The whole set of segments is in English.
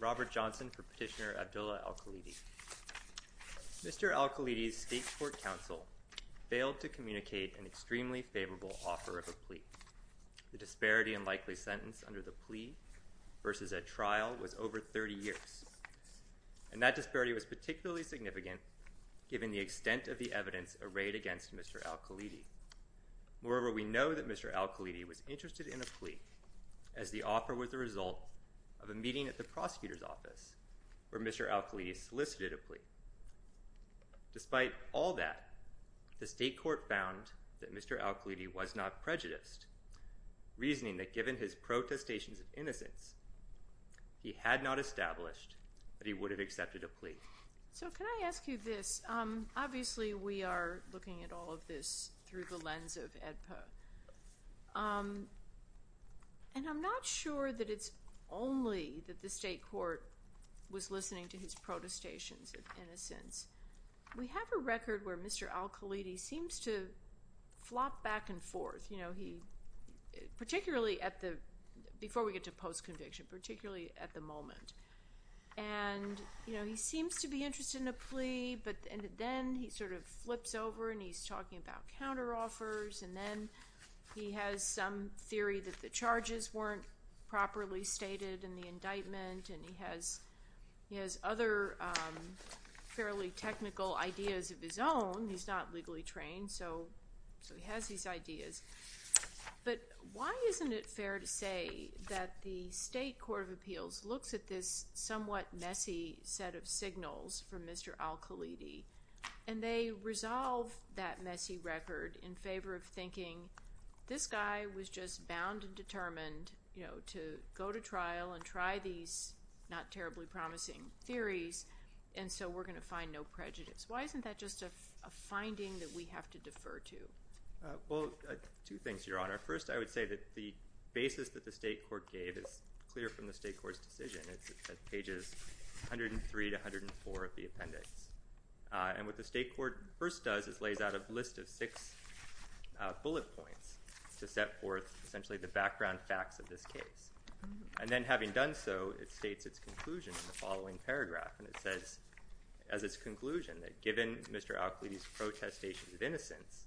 Robert Johnson for Petitioner Abdullah Alkhalidi Mr. Alkhalidi's State Court counsel failed to communicate an extremely favorable offer of a plea. The disparity and likely sentence under the plea versus a trial was over 30 years, and that disparity was particularly significant given the extent of the evidence arrayed against Mr. Alkhalidi. Moreover, we know that Mr. Alkhalidi was interested in a plea as the offer was the result of a meeting at the prosecutor's office where Mr. Alkhalidi solicited a plea. Despite all that, the State Court found that Mr. Alkhalidi was not prejudiced, reasoning that given his protestations of innocence, he had not established that he would have accepted a plea. So can I ask you this? Obviously we are looking at all of this through the lens of AEDPA, and I'm not sure that it's only that the State Court was listening to his protestations of flop back and forth, particularly before we get to post-conviction, particularly at the moment. And he seems to be interested in a plea, but then he sort of flips over and he's talking about counteroffers, and then he has some theory that the charges weren't properly stated in the indictment, and he has other fairly technical ideas of his own. He's not legally trained, so he has these ideas. But why isn't it fair to say that the State Court of Appeals looks at this somewhat messy set of signals from Mr. Alkhalidi, and they resolve that messy record in favor of thinking, this guy was just bound and determined to go to trial and try these not terribly promising theories, and so we're going to find no prejudice. Why isn't that just a finding that we have to defer to? Well, two things, Your Honor. First, I would say that the basis that the State Court gave is clear from the State Court's decision. It's at pages 103 to 104 of the appendix. And what the State Court first does is lays out a list of six bullet points to set forth essentially the background facts of this case. And then having done so, it states its conclusion in the following paragraph. And it says, as its conclusion, that given Mr. Alkhalidi's protestations of innocence,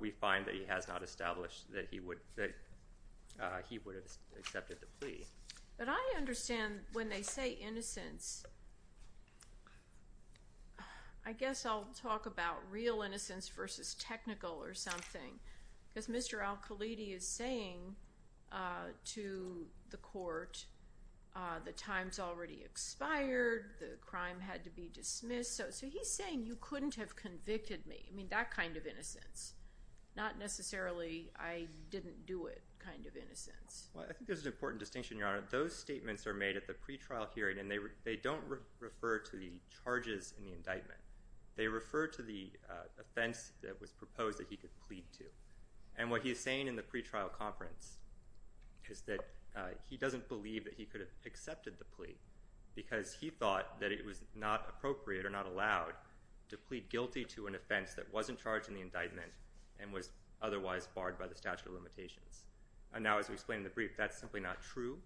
we find that he has not established that he would have accepted the plea. But I understand when they say innocence, I guess I'll talk about real innocence versus technical or something. Because Mr. Alkhalidi is saying to the court, the time's already expired, the crime had to be dismissed. So he's saying you couldn't have convicted me. I mean, that kind of innocence. Not necessarily I didn't do it kind of innocence. Well, I think there's an important distinction, Your Honor. Those statements are made at the pretrial hearing, and they don't refer to the charges in the indictment. They refer to the offense that was proposed that he could plead to. And what he is saying in the pretrial conference is that he doesn't believe that he could have accepted the plea, because he thought that it was not appropriate or not allowed to plead guilty to an offense that wasn't charged in the indictment and was otherwise barred by the statute of limitations. And now as we explain in the brief, that's simply not true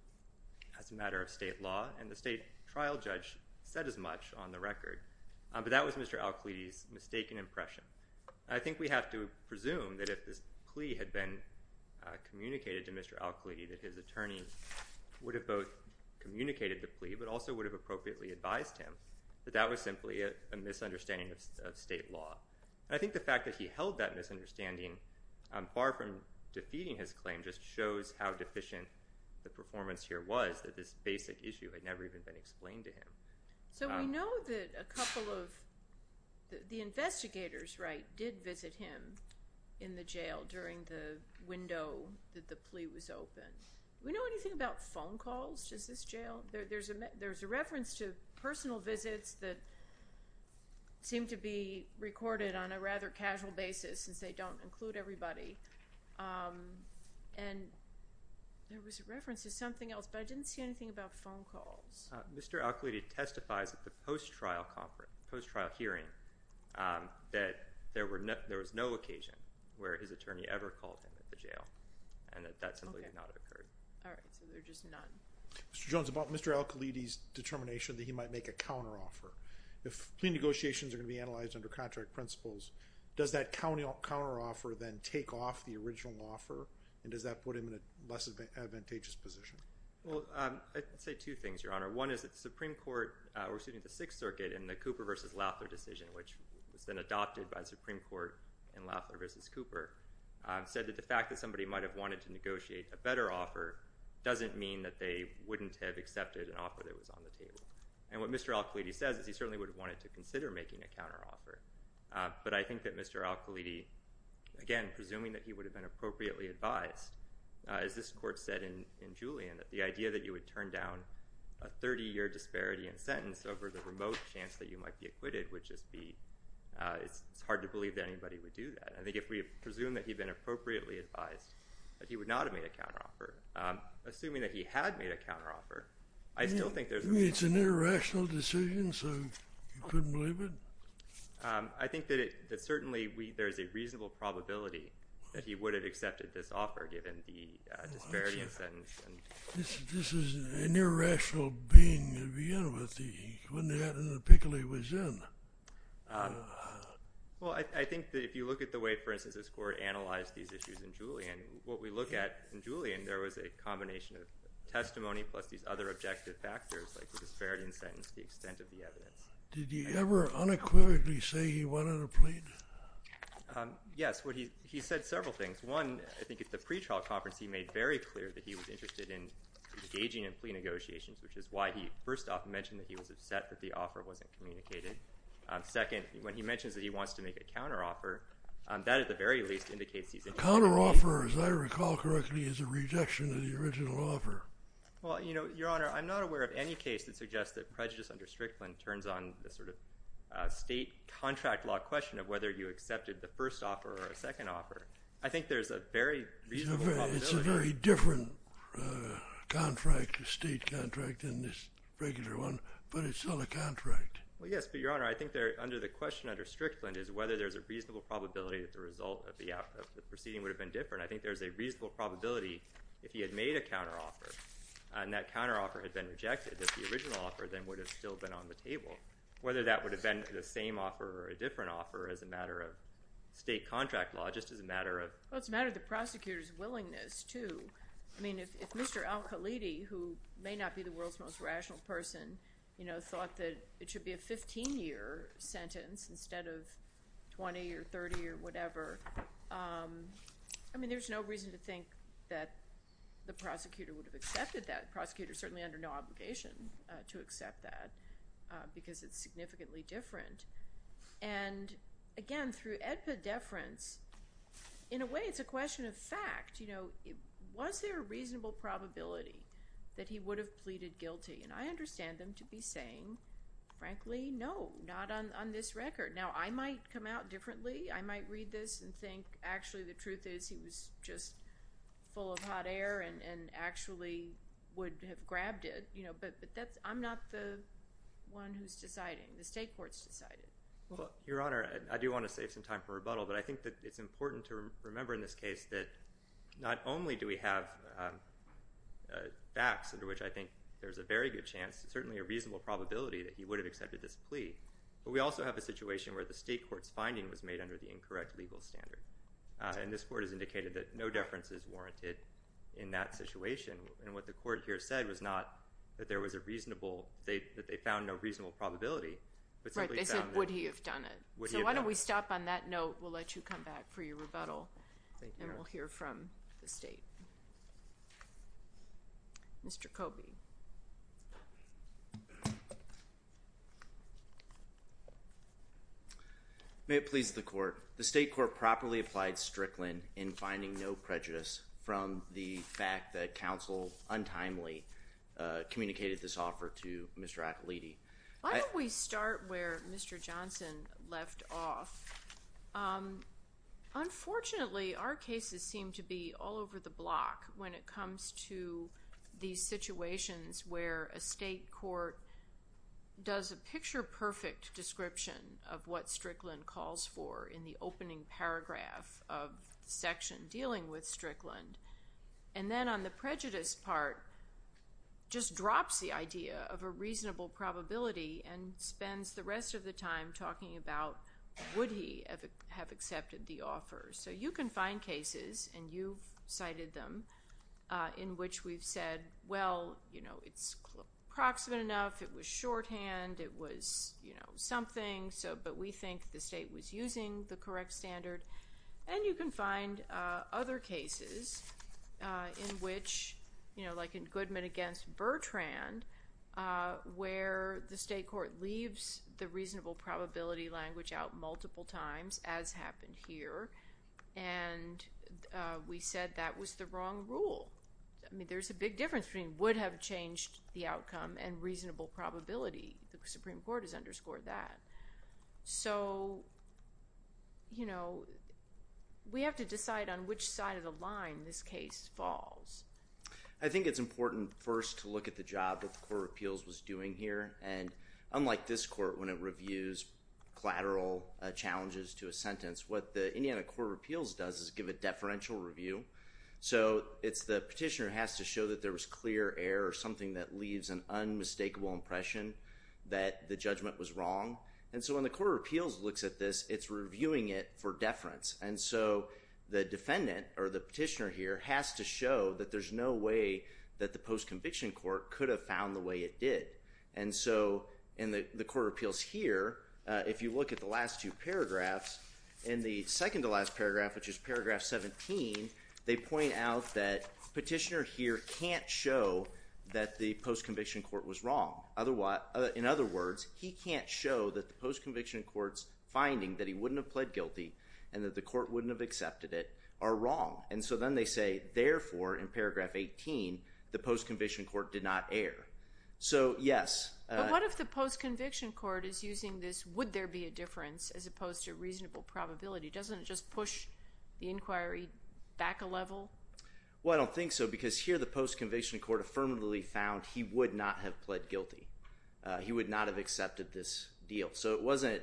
as a matter of state law. And the state trial judge said as much on the record. But that was Mr. Alkhalidi's mistaken impression. I think we have to presume that if this plea had been communicated to Mr. Alkhalidi, that his attorney would have both communicated the plea, but also would have appropriately advised him that that was simply a misunderstanding of state law. And I think the fact that he held that misunderstanding, far from defeating his claim, just shows how deficient the performance here was that this basic issue had never even been explained to him. So we know that a couple of the investigators, right, did visit him in the jail during the window that the plea was opened. Do we know anything about phone calls to this jail? There's a reference to personal visits that seem to be recorded on a rather casual basis, since they don't include everybody. And there was a reference to something else, but I didn't see anything about phone calls. Mr. Alkhalidi testifies at the post-trial hearing that there was no occasion where his attorney ever called him at the jail, and that that simply did not occur. All right, so there's just none. Mr. Jones, about Mr. Alkhalidi's determination that he might make a counter-offer, if plea negotiations are going to be analyzed under contract principles, does that counter-offer then take off the original offer, and does that put him in a less advantageous position? Well, I'd say two things, Your Honor. One is that the Supreme Court, or excuse me, the Sixth Circuit in the Cooper v. Lafler decision, which has been adopted by the Supreme Court in Lafler v. Cooper, said that the fact that somebody might have wanted to negotiate a better offer doesn't mean that they wouldn't have accepted an offer that was on the table. And what Mr. Alkhalidi says is he certainly would have wanted to consider making a counter-offer, but I think that Mr. Alkhalidi, again, presuming that he would have been appropriately advised, as this Court said in Julian, that the idea that you would turn down a 30-year disparity in sentence over the remote chance that you might be acquitted would just be, it's hard to believe that anybody would do that. I think if we presume that he'd been appropriately advised, that he would not have made a counter-offer. Assuming that he had made a counter-offer, I still think there's... You mean it's an irrational decision, so you couldn't believe it? I think that certainly there's a reasonable probability that he would have accepted this disparity in sentence. This is an irrational being to begin with. He wouldn't have had the pickle he was in. Well, I think that if you look at the way, for instance, this Court analyzed these issues in Julian, what we look at in Julian, there was a combination of testimony plus these other objective factors, like the disparity in sentence, the extent of the evidence. Did he ever unequivocally say he wanted a plea? Yes. He said several things. One, I think at the pretrial conference, he made very clear that he was interested in engaging in plea negotiations, which is why he first off mentioned that he was upset that the offer wasn't communicated. Second, when he mentions that he wants to make a counter-offer, that at the very least indicates he's... A counter-offer, as I recall correctly, is a rejection of the original offer. Well, Your Honor, I'm not aware of any case that suggests that prejudice under Strickland turns on the sort of state contract law question of whether you accepted the first offer or a second offer. I think there's a very reasonable probability... It's a very different contract, a state contract, than this regular one, but it's still a contract. Well, yes, but Your Honor, I think under the question under Strickland is whether there's a reasonable probability that the result of the proceeding would have been different. I think there's a reasonable probability if he had made a counter-offer and that counter-offer had been rejected, that the original offer then would have still been on the table. Whether that would have been the same offer or a different offer as a matter of state contract law, just as a matter of... Well, it's a matter of the prosecutor's willingness, too. I mean, if Mr. Al-Khalidi, who may not be the world's most rational person, thought that it should be a 15-year sentence instead of 20 or 30 or whatever, I mean, there's no reason to think that the prosecutor would have accepted that. The prosecutor is certainly under no obligation to accept that because it's significantly different. And again, through epideference, in a way, it's a question of fact. Was there a reasonable probability that he would have pleaded guilty? And I understand them to be saying, frankly, no, not on this record. Now, I might come out differently. I might read this and think, actually, the truth is he was just full of hot air and actually would have grabbed it. But I'm not the one who's deciding. The state court's deciding. Your Honor, I do want to save some time for rebuttal, but I think that it's important to remember in this case that not only do we have facts under which I think there's a very good chance, certainly a reasonable probability, that he would have accepted this plea, but we also have a situation where the state court's finding was made under the incorrect legal standard. And this court has indicated that no deference is warranted in that situation. And what the court here said was not that there was a reasonable – that they found no reasonable probability, but simply found that – Right. They said, would he have done it? Would he have done it? So why don't we stop on that note. We'll let you come back for your rebuttal. Thank you. Mr. Kobe. May it please the court. The state court properly applied Strickland in finding no prejudice from the fact that counsel untimely communicated this offer to Mr. Appoliti. Why don't we start where Mr. Johnson left off? Unfortunately, our cases seem to be all over the block when it comes to these situations where a state court does a picture-perfect description of what Strickland calls for in the opening paragraph of the section dealing with Strickland and then on the prejudice part just drops the idea of a reasonable probability and spends the rest of the time talking about would he have accepted the offer. So you can find cases, and you cited them, in which we've said, well, you know, it's proximate enough, it was shorthand, it was, you know, something, but we think the state was using the correct standard. And you can find other cases in which, you know, like in Goodman against Bertrand where the state court leaves the reasonable probability language out multiple times, as happened here, and we said that was the wrong rule. I mean, there's a big difference between would have changed the outcome and reasonable probability. The Supreme Court has underscored that. So, you know, we have to decide on which side of the line this case falls. I think it's important first to look at the job that the Court of Appeals was doing here, and unlike this court when it reviews collateral challenges to a sentence, what the Indiana Court of Appeals does is give a deferential review. So it's the petitioner has to show that there was clear error or something that leaves an unmistakable impression that the judgment was wrong. And so when the Court of Appeals looks at this, it's reviewing it for deference. And so the defendant, or the petitioner here, has to show that there's no way that the post-conviction court could have found the way it did. And so in the Court of Appeals here, if you look at the last two paragraphs, in the second to last paragraph, which is paragraph 17, they point out that petitioner here can't show that the post-conviction court was wrong. In other words, he can't show that the post-conviction court's finding that he wouldn't have pled guilty and that the court wouldn't have accepted it are wrong. And so then they say, therefore, in paragraph 18, the post-conviction court did not err. So, yes. But what if the post-conviction court is using this would there be a difference as opposed to reasonable probability? Doesn't it just push the inquiry back a level? Well, I don't think so, because here the post-conviction court affirmatively found he would not have pled guilty. He would not have accepted this deal. So it wasn't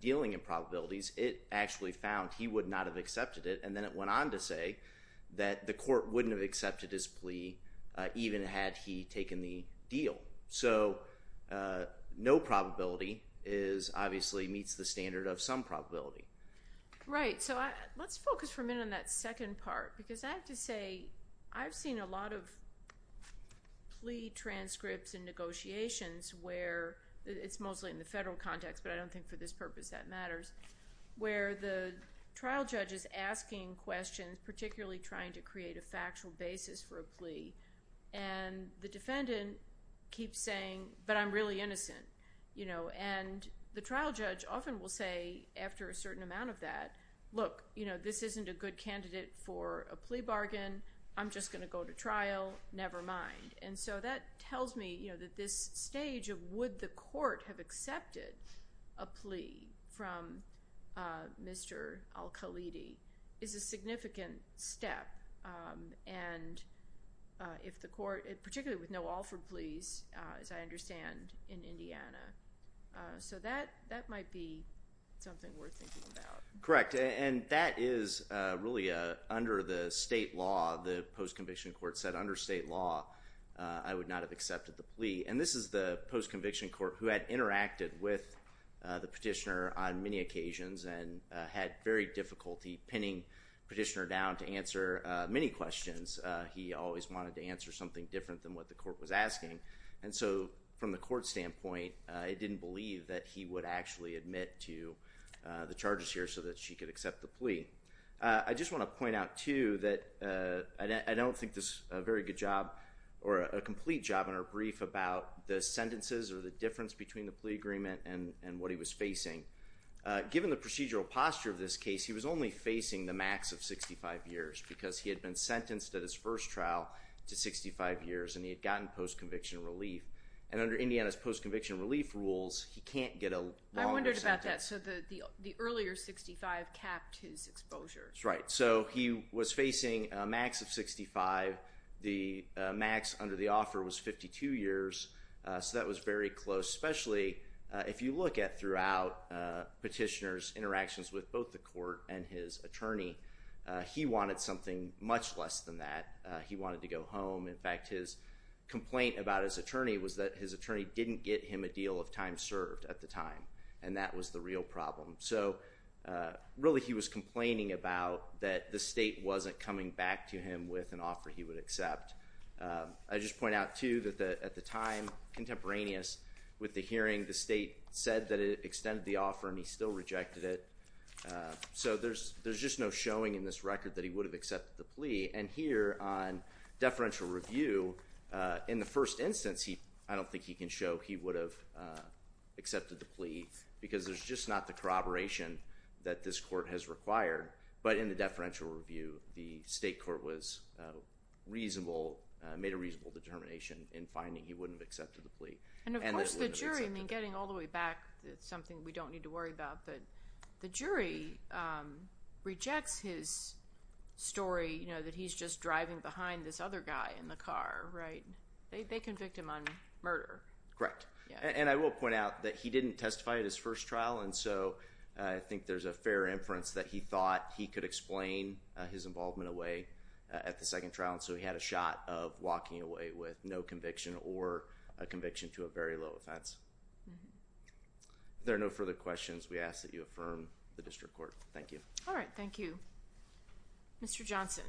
dealing in probabilities. It actually found he would not have accepted it. And then it went on to say that the court wouldn't have accepted his plea even had he taken the deal. So, no probability is, obviously, meets the standard of some probability. Right. So let's focus for a minute on that second part, because I have to say, I've seen a lot of plea transcripts and negotiations where it's mostly in the federal context, but I don't think for this purpose that matters, where the trial judge is asking questions, particularly trying to create a factual basis for a plea, and the defendant keeps saying, but I'm really innocent. And the trial judge often will say, after a certain amount of that, look, this isn't a good candidate for a plea bargain, I'm just going to go to trial, never mind. And so that tells me that this stage of would the court have accepted a plea from Mr. Al-Khalidi is a significant step. And if the court, particularly with no Alford pleas, as I understand, in Indiana. So that might be something worth thinking about. Correct. And that is really, under the state law, the post-conviction court said, under state law, I would not have accepted the plea. And this is the post-conviction court who had interacted with the petitioner on many occasions and had very difficulty pinning petitioner down to answer many questions. He always wanted to answer something different than what the court was asking. And so from the court standpoint, it didn't believe that he would actually admit to the charges here so that she could accept the plea. I just want to point out, too, that I don't think there's a very good job, or a complete job in our brief about the sentences or the difference between the plea agreement and what he was facing. Given the procedural posture of this case, he was only facing the max of 65 years, because he had been sentenced at his first trial to 65 years, and he had gotten post-conviction relief. And under Indiana's post-conviction relief rules, he can't get a longer sentence. I wondered about that. So the earlier 65 capped his exposure. Right. So he was facing a max of 65. The max under the offer was 52 years. So that was very close. Especially if you look at, throughout petitioner's attorney, he wanted something much less than that. He wanted to go home. In fact, his complaint about his attorney was that his attorney didn't get him a deal of time served at the time. And that was the real problem. So really he was complaining about that the state wasn't coming back to him with an offer he would accept. I just point out, too, that at the time, contemporaneous with the hearing, the state said that it extended the offer and he still rejected it. So there's just no showing in this record that he would have accepted the plea. And here, on deferential review, in the first instance, I don't think he can show he would have accepted the plea, because there's just not the corroboration that this court has required. But in the deferential review, the state court made a reasonable determination in finding he wouldn't have accepted the plea. And of course the jury, getting all the way back, it's something we don't need to worry about, but the jury rejects his story that he's just driving behind this other guy in the car. They convict him on murder. Correct. And I will point out that he didn't testify at his first trial, and so I think there's a fair inference that he thought he could explain his involvement away at the second trial. So he had a shot of walking away with no conviction or a conviction to a very low offense. There are no further questions. We ask that you affirm the district court. Thank you. All right. Thank you. Mr. Johnson.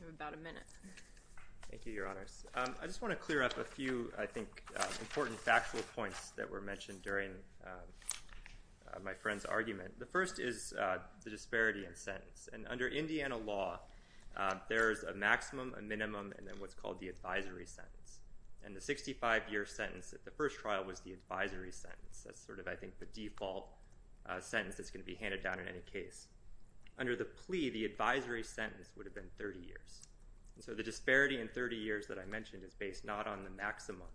You have about a minute. Thank you, Your Honors. I just want to clear up a few, I think, important factual points that were mentioned during my friend's argument. The first is the disparity in sentence. And there's a maximum, a minimum, and then what's called the advisory sentence. And the 65-year sentence at the first trial was the advisory sentence. That's sort of, I think, the default sentence that's going to be handed down in any case. Under the plea, the advisory sentence would have been 30 years. So the disparity in 30 years that I mentioned is based not on the maximum.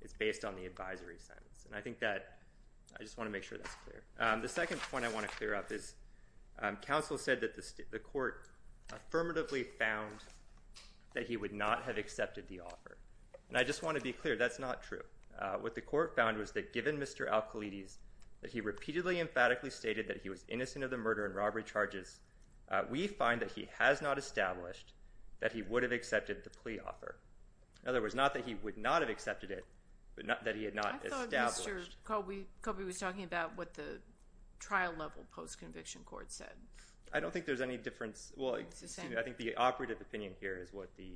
It's based on the advisory sentence. And I think that, I just want to make sure that's clear. The second point I want to clear up is, counsel said that the court affirmatively found that he would not have accepted the offer. And I just want to be clear, that's not true. What the court found was that given Mr. Al-Khalidi's that he repeatedly emphatically stated that he was innocent of the murder and robbery charges, we find that he has not established that he would have accepted the plea offer. In other words, not that he would not have accepted it, but that he had not established. I thought Mr. Kobe was talking about what the trial level post-conviction court said. I don't think there's any difference. I think the operative opinion here is what the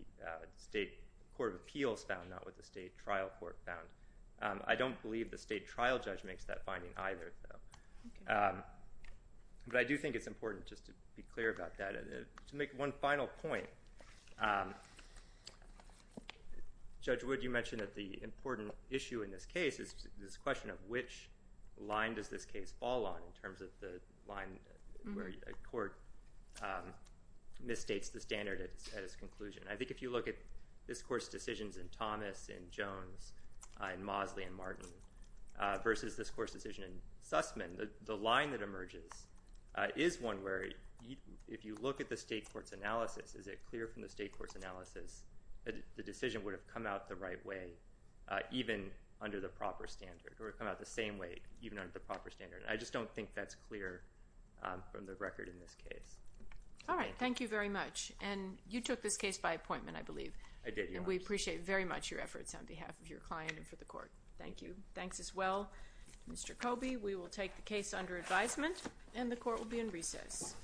state court of appeals found, not what the state trial court found. I don't believe the state trial judge makes that finding either. But I do think it's important just to be clear about that. To make one final point, Judge Wood, you mentioned that the question of which line does this case fall on in terms of the line where a court misstates the standard at its conclusion. I think if you look at this court's decisions in Thomas and Jones and Mosley and Martin versus this court's decision in Sussman, the line that emerges is one where if you look at the state court's analysis, is it clear from the state court's analysis that the decision would have come out the right way even under the proper standard? Or come out the same way even under the proper standard? I just don't think that's clear from the record in this case. Thank you very much. You took this case by appointment, I believe. I did. We appreciate very much your efforts on behalf of your client and for the court. Thank you. Thanks as well, Mr. Coby. We will take the case under advisement and the court will be in recess. Thank you.